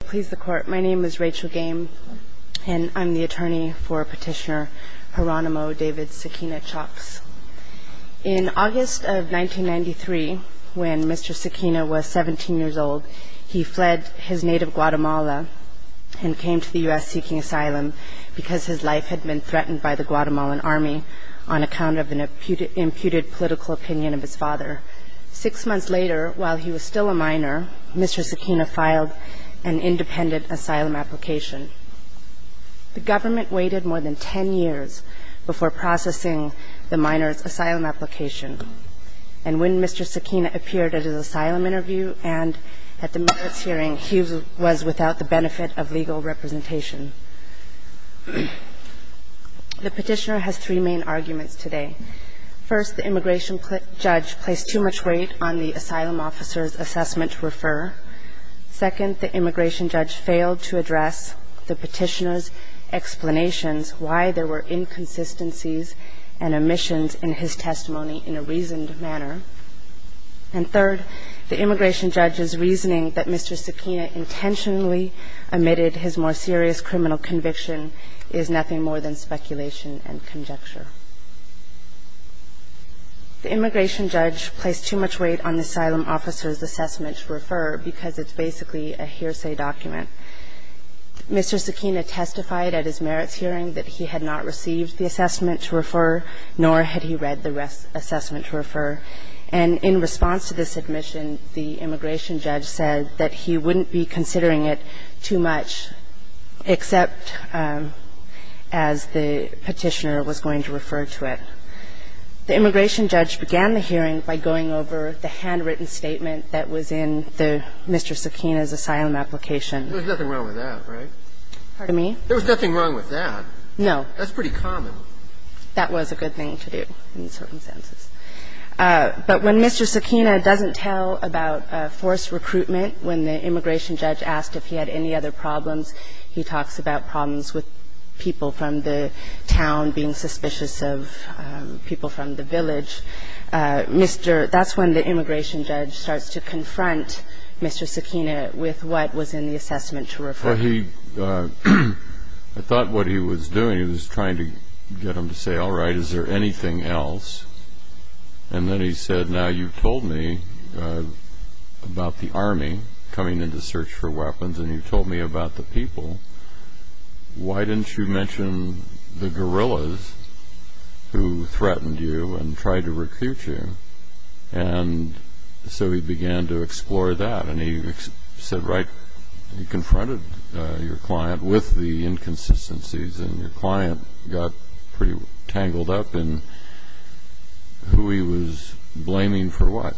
Please the court. My name is Rachel Game and I'm the attorney for petitioner Jeronimo David Siquina-Chox. In August of 1993, when Mr. Siquina was 17 years old, he fled his native Guatemala and came to the U.S. seeking asylum because his life had been threatened by the Guatemalan army on account of an imputed political opinion of his father. Six months later, while he was still a minor, Mr. Siquina filed an independent asylum application. The government waited more than 10 years before processing the minor's asylum application. And when Mr. Siquina appeared at his asylum interview and at the merits hearing, he was without the benefit of legal representation. The petitioner has three main arguments today. First, the immigration judge placed too much weight on the asylum officer's assessment to refer. Second, the immigration judge failed to address the petitioner's explanations why there were inconsistencies and omissions in his testimony in a reasoned manner. And third, the immigration judge's reasoning that Mr. Siquina intentionally omitted his more serious criminal conviction is nothing more than speculation and conjecture. The immigration judge placed too much weight on the asylum officer's assessment to refer because it's basically a hearsay document. Mr. Siquina testified at his merits hearing that he had not received the assessment to refer, nor had he read the assessment to refer. And in response to this admission, the immigration judge said that he wouldn't be considering it too much except as the petitioner was going to refer to it. The immigration judge began the hearing by going over the handwritten statement that was in the Mr. Siquina's asylum application. There was nothing wrong with that, right? Pardon me? There was nothing wrong with that. No. That's pretty common. That was a good thing to do in these circumstances. But when Mr. Siquina doesn't tell about forced recruitment, when the immigration judge asked if he had any other concerns, and the immigration judge said, no, I don't have any other concerns, And that's when the immigration judge starts to confront Mr. Siquina with what was in the assessment to refer. Well, he – I thought what he was doing, he was trying to get him to say, all right, is there anything else? And then he said, now, you've told me about the army coming into search for weapons, and you've told me about the people. Why didn't you mention the guerrillas who threatened you and tried to recruit you? And so he began to explore that. And he said, right, he confronted your client with the inconsistencies, and your client got pretty tangled up in who he was blaming for what.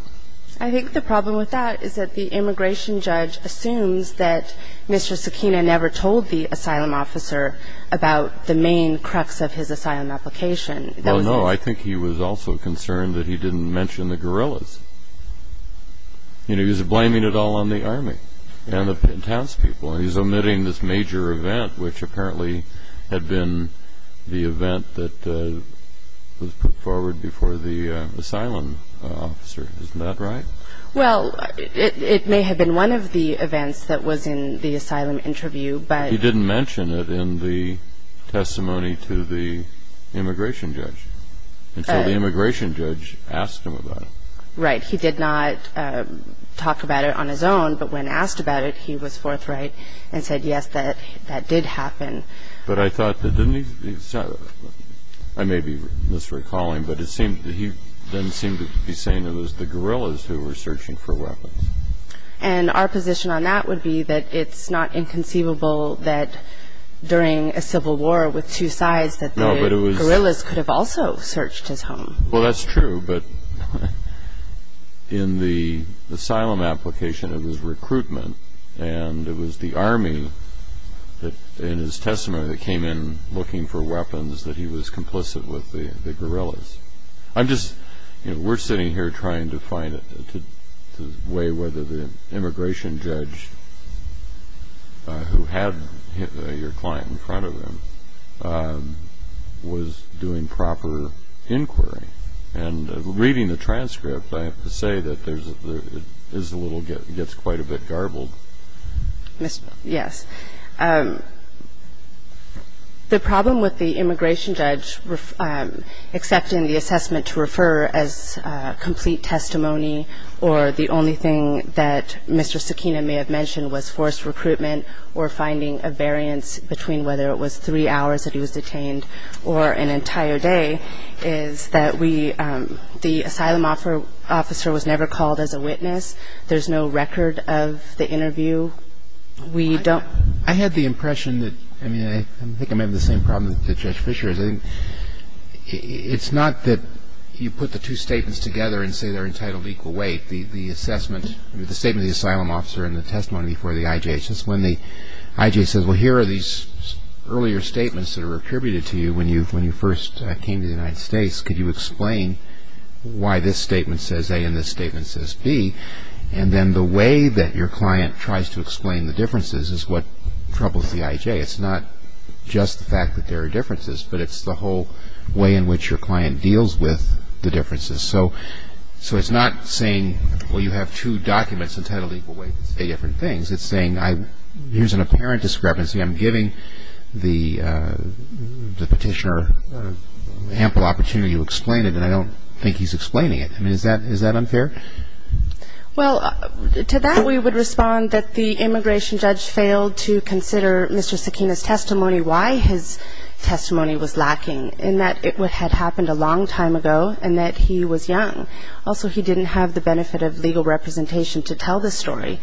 I think the problem with that is that the immigration judge assumes that Mr. Siquina never told the asylum officer about the main crux of his asylum application. Well, no, I think he was also concerned that he didn't mention the guerrillas. You know, he was blaming it all on the army and the townspeople. And he's omitting this major event, which apparently had been the event that was put forward before the asylum officer. Isn't that right? Well, it may have been one of the events that was in the asylum interview, but... He didn't mention it in the testimony to the immigration judge. And so the immigration judge asked him about it. Right. He did not talk about it on his own, but when asked about it, he was forthright and said, yes, that did happen. I may be misrecalling, but he then seemed to be saying it was the guerrillas who were searching for weapons. And our position on that would be that it's not inconceivable that during a civil war with two sides that the guerrillas could have also searched his home. Well, that's true. But in the asylum application, it was recruitment, and it was the army that in his testimony that came in looking for weapons that he was complicit with the guerrillas. I'm just, you know, we're sitting here trying to find a way whether the immigration judge who had your client in front of him was doing proper inquiry. And reading the transcript, I have to say that it gets quite a bit garbled. Yes. The problem with the immigration judge accepting the assessment to refer as complete testimony or the only thing that Mr. Sakina may have mentioned was forced recruitment or finding a variance between whether it was three hours that he was detained or an entire day is that the asylum officer was never called as a witness. There's no record of the interview. I had the impression that, I mean, I think I'm having the same problem that Judge Fisher is. It's not that you put the two statements together and say they're entitled to equal weight. The assessment, I mean, the statement of the asylum officer and the testimony before the IJ, it's when the IJ says, well, here are these earlier statements that were attributed to you when you first came to the United States. Could you explain why this statement says A and this statement says B? And then the way that your client tries to explain the differences is what troubles the IJ. It's not just the fact that there are differences, but it's the whole way in which your client deals with the differences. So it's not saying, well, you have two documents entitled to equal weight that say different things. It's saying, here's an apparent discrepancy. I'm giving the petitioner ample opportunity to explain it, and I don't think he's explaining it. I mean, is that unfair? Well, to that we would respond that the immigration judge failed to consider Mr. Sakina's testimony, why his testimony was lacking, in that it had happened a long time ago and that he was young. Also, he didn't have the benefit of legal representation to tell the story.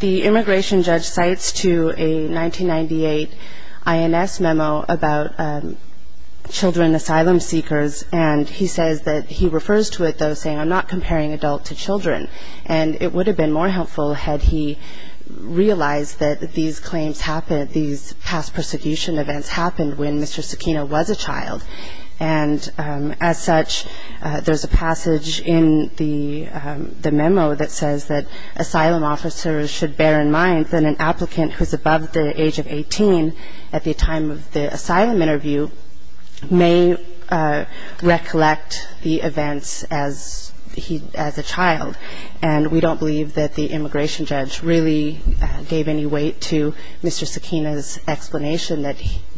The immigration judge cites to a 1998 INS memo about children asylum seekers, and he says that he refers to it, though, saying, I'm not comparing adult to children. And it would have been more helpful had he realized that these claims happened, that these past persecution events happened when Mr. Sakina was a child. And as such, there's a passage in the memo that says that asylum officers should bear in mind that an applicant who's above the age of 18 at the time of the asylum interview may recollect the events as a child. And we don't believe that the immigration judge really gave any weight to Mr. Sakina's explanation that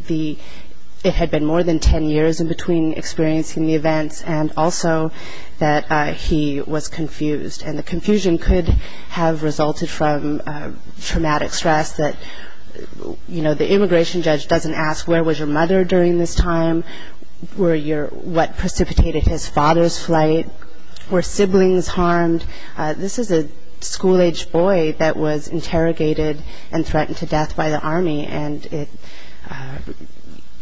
it had been more than 10 years in between experiencing the events, and also that he was confused. And the confusion could have resulted from traumatic stress that, you know, the immigration judge doesn't ask where was your mother during this time, where your what precipitated his father's flight, were siblings harmed. This is a school-aged boy that was interrogated and threatened to death by the Army, and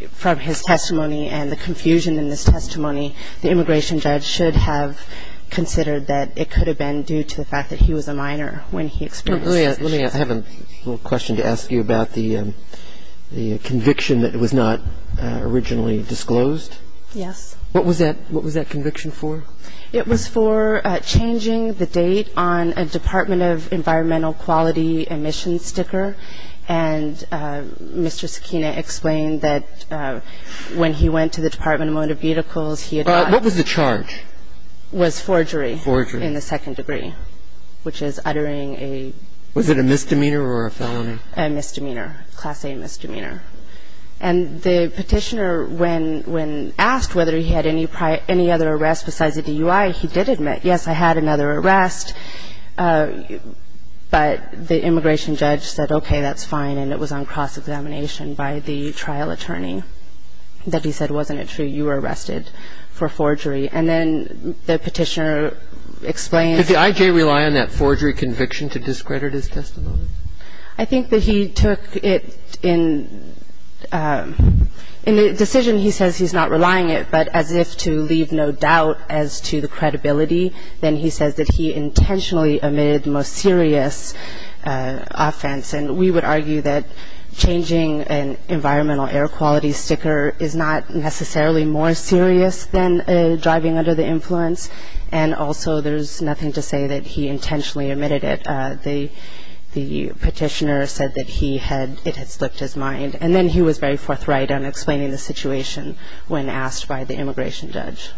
from his testimony and the confusion in his testimony, the immigration judge should have considered that it could have been due to the fact that he was a minor when he experienced this. Let me have a little question to ask you about the conviction that was not originally described in the statute. It was for changing the date on a Department of Environmental Quality emissions sticker. And Mr. Sakina explained that when he went to the Department of Motor Vehicles, he had gotten... What was the charge? Was forgery in the second degree, which is uttering a... And the petitioner, when asked whether he had any other arrest besides a DUI, he did admit, yes, I had another arrest, but the immigration judge said, okay, that's fine, and it was on cross-examination by the trial attorney that he said, wasn't it true, you were arrested for forgery. And then the petitioner explained... Did the IJ rely on that forgery conviction to discredit his testimony? I think that he took it in... In the decision, he says he's not relying it, but as if to leave no doubt as to the credibility, then he says that he intentionally omitted the most serious offense. And we would argue that changing an environmental air quality sticker is not necessarily more serious than driving under the influence, and also there's nothing to say that he intentionally omitted it. The petitioner said that it had slipped his mind, and then he was very forthright in explaining the situation when asked by the immigration judge.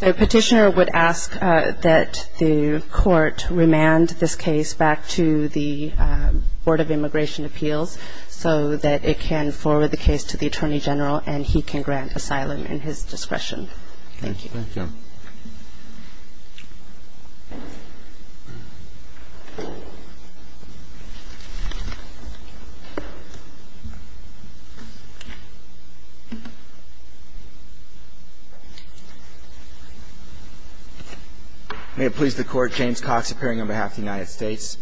The petitioner would ask that the court remand this case back to the Board of Immigration Appeals so that it can forward the case to the Attorney General and he can grant asylum in his discretion. Thank you. Thank you. May it please the Court. James Cox appearing on behalf of the United States.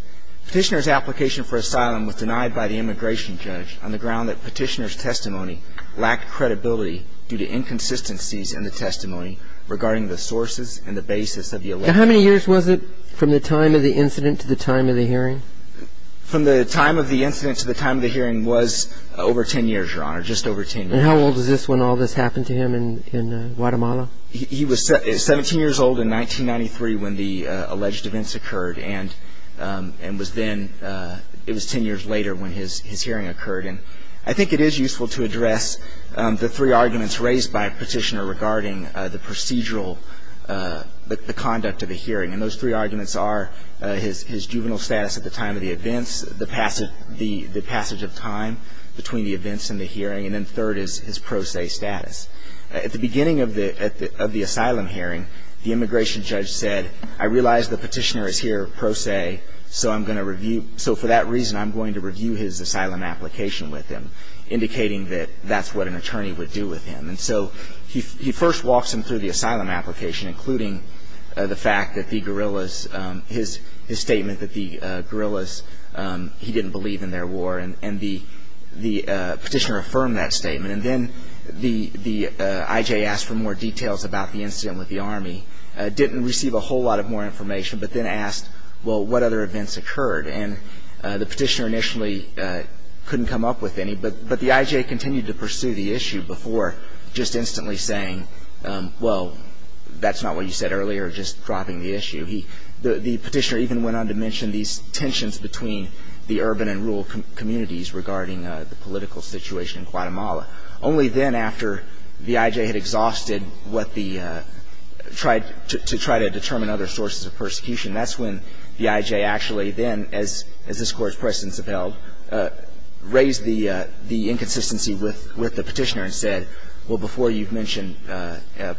Petitioner's application for asylum was denied by the immigration judge on the ground that petitioner's testimony lacked credibility due to inconsistencies in the testimony regarding the sources and the basis of the alleged... Now, how many years was it from the time of the incident to the time of the hearing? From the time of the incident to the time of the hearing was over 10 years, Your Honor, just over 10 years. And how old was this when all this happened to him in Guatemala? He was 17 years old in 1993 when the alleged events occurred, and was then, it was 10 years later when his hearing occurred. And I think it is useful to address the three arguments raised by a petitioner regarding the procedural, the conduct of the hearing. And those three arguments are his juvenile status at the time of the events, the passage of time between the events and the hearing, and then third is his pro se status. At the beginning of the asylum hearing, the immigration judge said, I realize the petitioner is here pro se, so I'm going to review, his asylum application with him, indicating that that's what an attorney would do with him. And so he first walks him through the asylum application, including the fact that the guerrillas, his statement that the guerrillas, he didn't believe in their war, and the petitioner affirmed that statement. And then the IJ asked for more details about the incident with the Army, didn't receive a whole lot of more information, but then asked, well, what other events occurred? And the petitioner initially couldn't come up with any, but the IJ continued to pursue the issue before just instantly saying, well, that's not what you said earlier, just dropping the issue. The petitioner even went on to mention these tensions between the urban and rural communities regarding the political situation in Guatemala. Only then, after the IJ had exhausted what the try to determine other sources of persecution, that's when the IJ actually then, as this Court's precedents have held, raised the inconsistency with the petitioner and said, well, before you've mentioned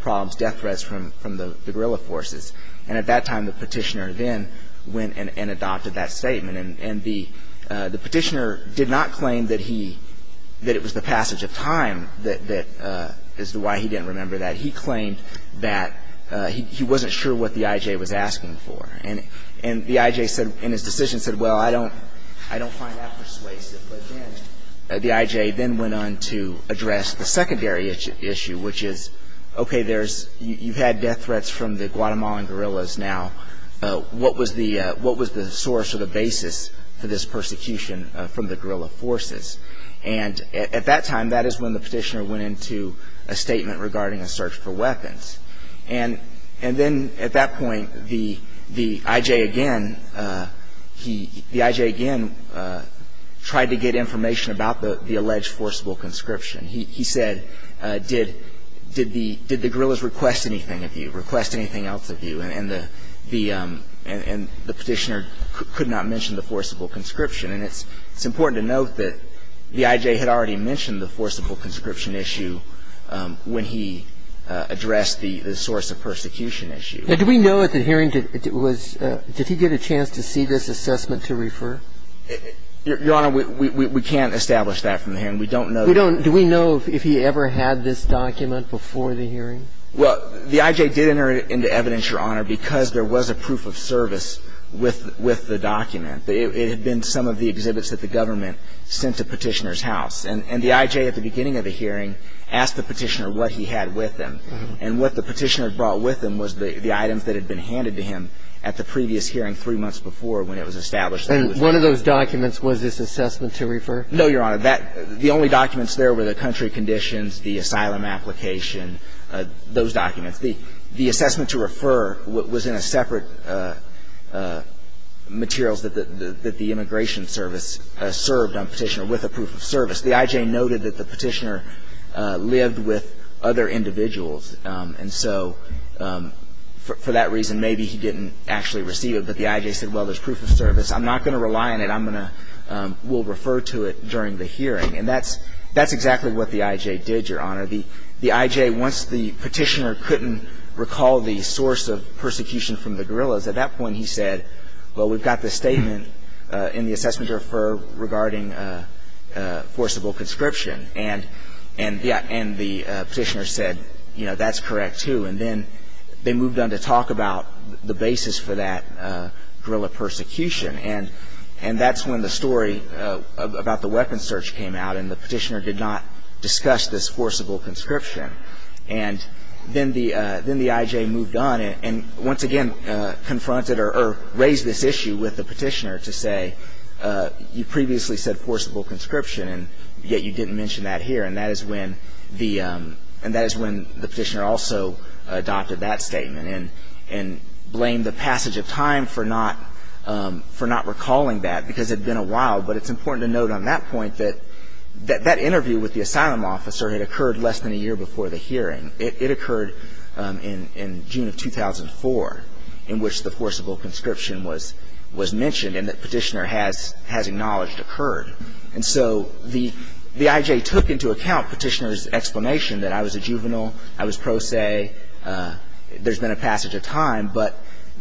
problems, death threats from the guerrilla forces. And at that time, the petitioner then went and adopted that statement. And the petitioner did not claim that he, that it was the passage of time that, as to why he didn't remember that. He claimed that he wasn't sure what the IJ was asking for. And the IJ said, in his decision, said, well, I don't find that persuasive. But then the IJ then went on to address the secondary issue, which is, okay, you've had death threats from the Guatemalan guerrillas. Now, what was the source or the basis for this persecution from the guerrilla forces? And at that time, that is when the petitioner went into a statement regarding a search for weapons. And then at that point, the IJ again, he, the IJ again tried to get information about the alleged forcible conscription. He said, did the guerrillas request anything of you, request anything else of you? And the petitioner could not mention the forcible conscription. And it's important to note that the IJ had already mentioned the forcible conscription issue when he addressed the source of persecution issue. Now, do we know at the hearing, did he get a chance to see this assessment to refer? Your Honor, we can't establish that from the hearing. We don't know. Do we know if he ever had this document before the hearing? Well, the IJ did enter into evidence, Your Honor, because there was a proof of service with the document. It had been some of the exhibits that the government sent to Petitioner's house. And the IJ at the beginning of the hearing asked the petitioner what he had with him. And what the petitioner brought with him was the items that had been handed to him at the previous hearing three months before when it was established. And one of those documents was this assessment to refer? No, Your Honor. The only documents there were the country conditions, the asylum application, those documents. The assessment to refer was in a separate materials that the immigration service served on Petitioner with a proof of service. The IJ noted that the petitioner lived with other individuals. And so for that reason, maybe he didn't actually receive it. But the IJ said, well, there's proof of service. I'm not going to rely on it. I'm going to we'll refer to it during the hearing. And that's exactly what the IJ did, Your Honor. The IJ, once the petitioner couldn't recall the source of persecution from the guerrillas, at that point he said, well, we've got this statement in the assessment to refer regarding forcible conscription. And the petitioner said, you know, that's correct, too. And then they moved on to talk about the basis for that guerrilla persecution. And that's when the story about the weapon search came out, and the petitioner did not discuss this forcible conscription. And then the IJ moved on and once again confronted or raised this issue with the petitioner to say, you previously said forcible conscription, and yet you didn't mention that here. And that is when the petitioner also adopted that statement and blamed the passage of time for not recalling that, because it had been a while. But it's important to note on that point that that interview with the asylum officer had occurred less than a year before the hearing. It occurred in June of 2004, in which the forcible conscription was mentioned and that petitioner has acknowledged occurred. And so the IJ took into account petitioner's explanation that I was a juvenile, I was pro se, there's been a passage of time, but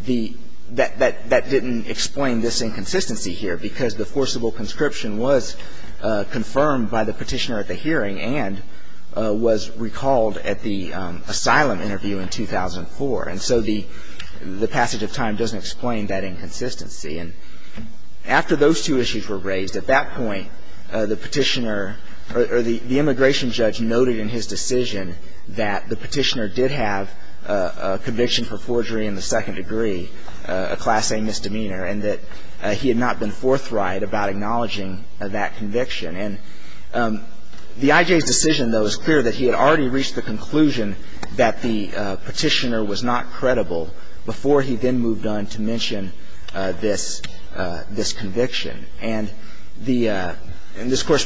that didn't explain this inconsistency here, because the forcible conscription was confirmed by the petitioner at the hearing and was recalled at the asylum interview in 2004. And so the passage of time doesn't explain that inconsistency. And after those two issues were raised, at that point the petitioner or the immigration judge noted in his decision that the petitioner did have a conviction for forgery in the acknowledging that conviction. And the IJ's decision, though, is clear that he had already reached the conclusion that the petitioner was not credible before he then moved on to mention this conviction. And this Court's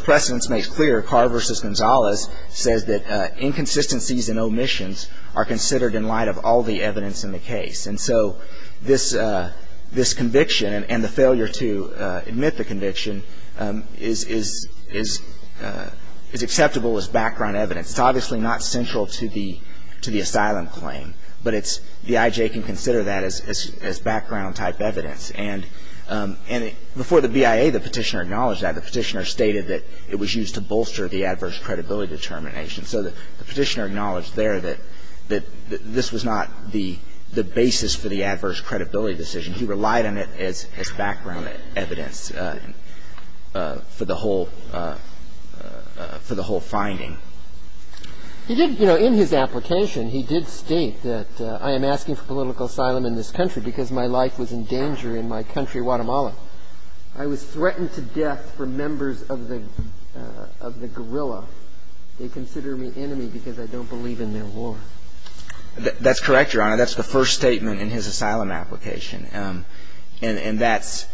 precedence makes clear, Carr v. Gonzalez says that inconsistencies and omissions are considered in light of all the evidence in the case. And so this conviction and the failure to admit the conviction is acceptable as background evidence. It's obviously not central to the asylum claim, but the IJ can consider that as background type evidence. And before the BIA, the petitioner acknowledged that. The petitioner stated that it was used to bolster the adverse credibility determination. So the petitioner acknowledged there that this was not the basis for the adverse credibility decision. He relied on it as background evidence for the whole finding. He did, you know, in his application, he did state that I am asking for political asylum in this country because my life was in danger in my country, Guatemala. I was threatened to death for members of the guerrilla. They consider me enemy because I don't believe in their war. That's correct, Your Honor. That's the first statement in his asylum application. And that's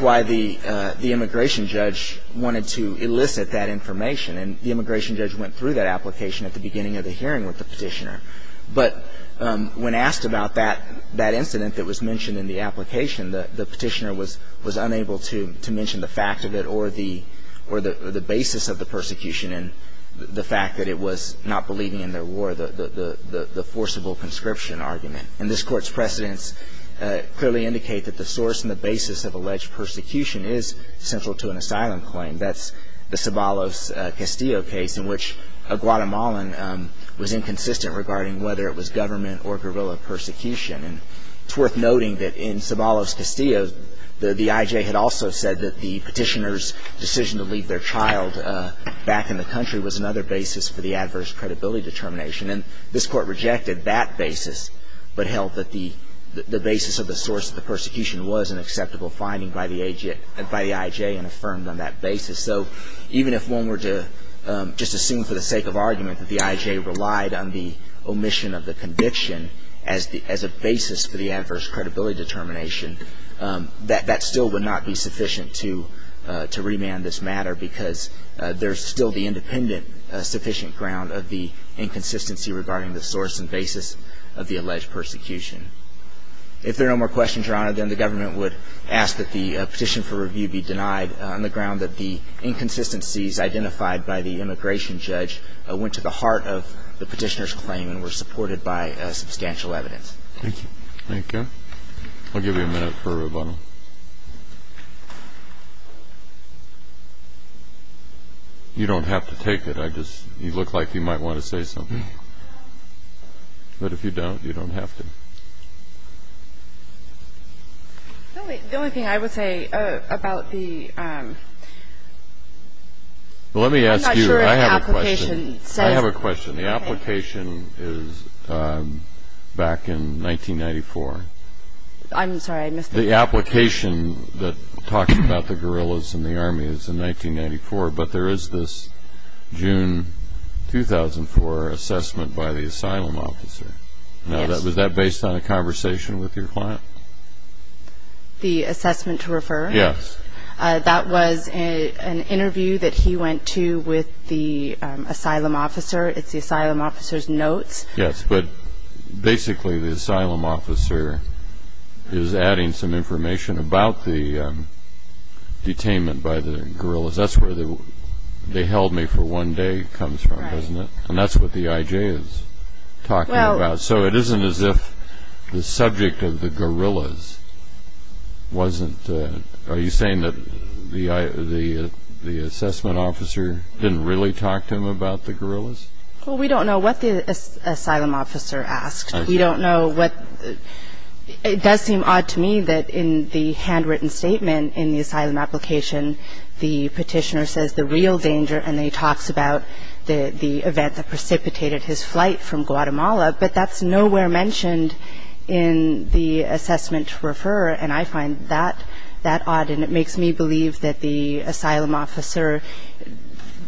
why the immigration judge wanted to elicit that information. And the immigration judge went through that application at the beginning of the hearing with the petitioner. But when asked about that incident that was mentioned in the application, the petitioner was unable to mention the fact of it or the basis of the persecution and the fact that it was not believing in their war, the forcible conscription argument. And this Court's precedents clearly indicate that the source and the basis of alleged persecution is central to an asylum claim. That's the Sabalos-Castillo case in which a Guatemalan was inconsistent regarding whether it was government or guerrilla persecution. And it's worth noting that in Sabalos-Castillo, the IJ had also said that the petitioner's decision to leave their child back in the country was another basis for the adverse credibility determination. And this Court rejected that basis but held that the basis of the source of the persecution was an acceptable finding by the IJ and affirmed on that basis. So even if one were to just assume for the sake of argument that the IJ relied on the basis for the adverse credibility determination, that still would not be sufficient to remand this matter because there's still the independent sufficient ground of the inconsistency regarding the source and basis of the alleged persecution. If there are no more questions, Your Honor, then the government would ask that the petition for review be denied on the ground that the inconsistencies identified by the immigration judge went to the heart of the petitioner's claim and were supported by substantial evidence. Thank you. Thank you. I'll give you a minute for a rebuttal. You don't have to take it. I just, you look like you might want to say something. But if you don't, you don't have to. The only thing I would say about the... Let me ask you. I'm not sure if the application says... I have a question. The application is back in 1994. I'm sorry, I missed it. The application that talks about the guerrillas and the army is in 1994, but there is this June 2004 assessment by the asylum officer. Yes. Now, was that based on a conversation with your client? The assessment to refer? Yes. That was an interview that he went to with the asylum officer. It's the asylum officer's notes. Yes, but basically the asylum officer is adding some information about the detainment by the guerrillas. That's where the they held me for one day comes from, doesn't it? And that's what the IJ is talking about. So it isn't as if the subject of the guerrillas wasn't... Are you saying that the assessment officer didn't really talk to him about the guerrillas? Well, we don't know what the asylum officer asked. We don't know what... It does seem odd to me that in the handwritten statement in the asylum application, the petitioner says the real danger, and he talks about the event that precipitated his flight from Guatemala, but that's nowhere mentioned in the assessment to refer, and I find that odd. And it makes me believe that the asylum officer,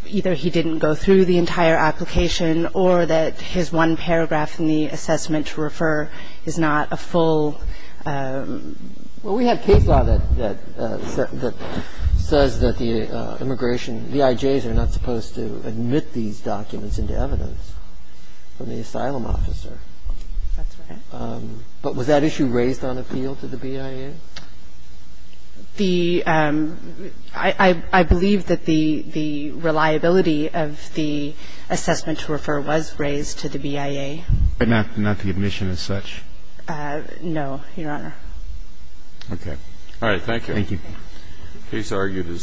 either he didn't go through the entire application or that his one paragraph in the assessment to refer is not a full... Well, we have case law that says that the immigration, the IJs are not supposed to admit these documents into evidence from the asylum officer. That's right. But was that issue raised on appeal to the BIA? The... I believe that the reliability of the assessment to refer was raised to the BIA. But not the admission as such? No, Your Honor. Okay. All right. Thank you. Thank you. The case argued is submitted.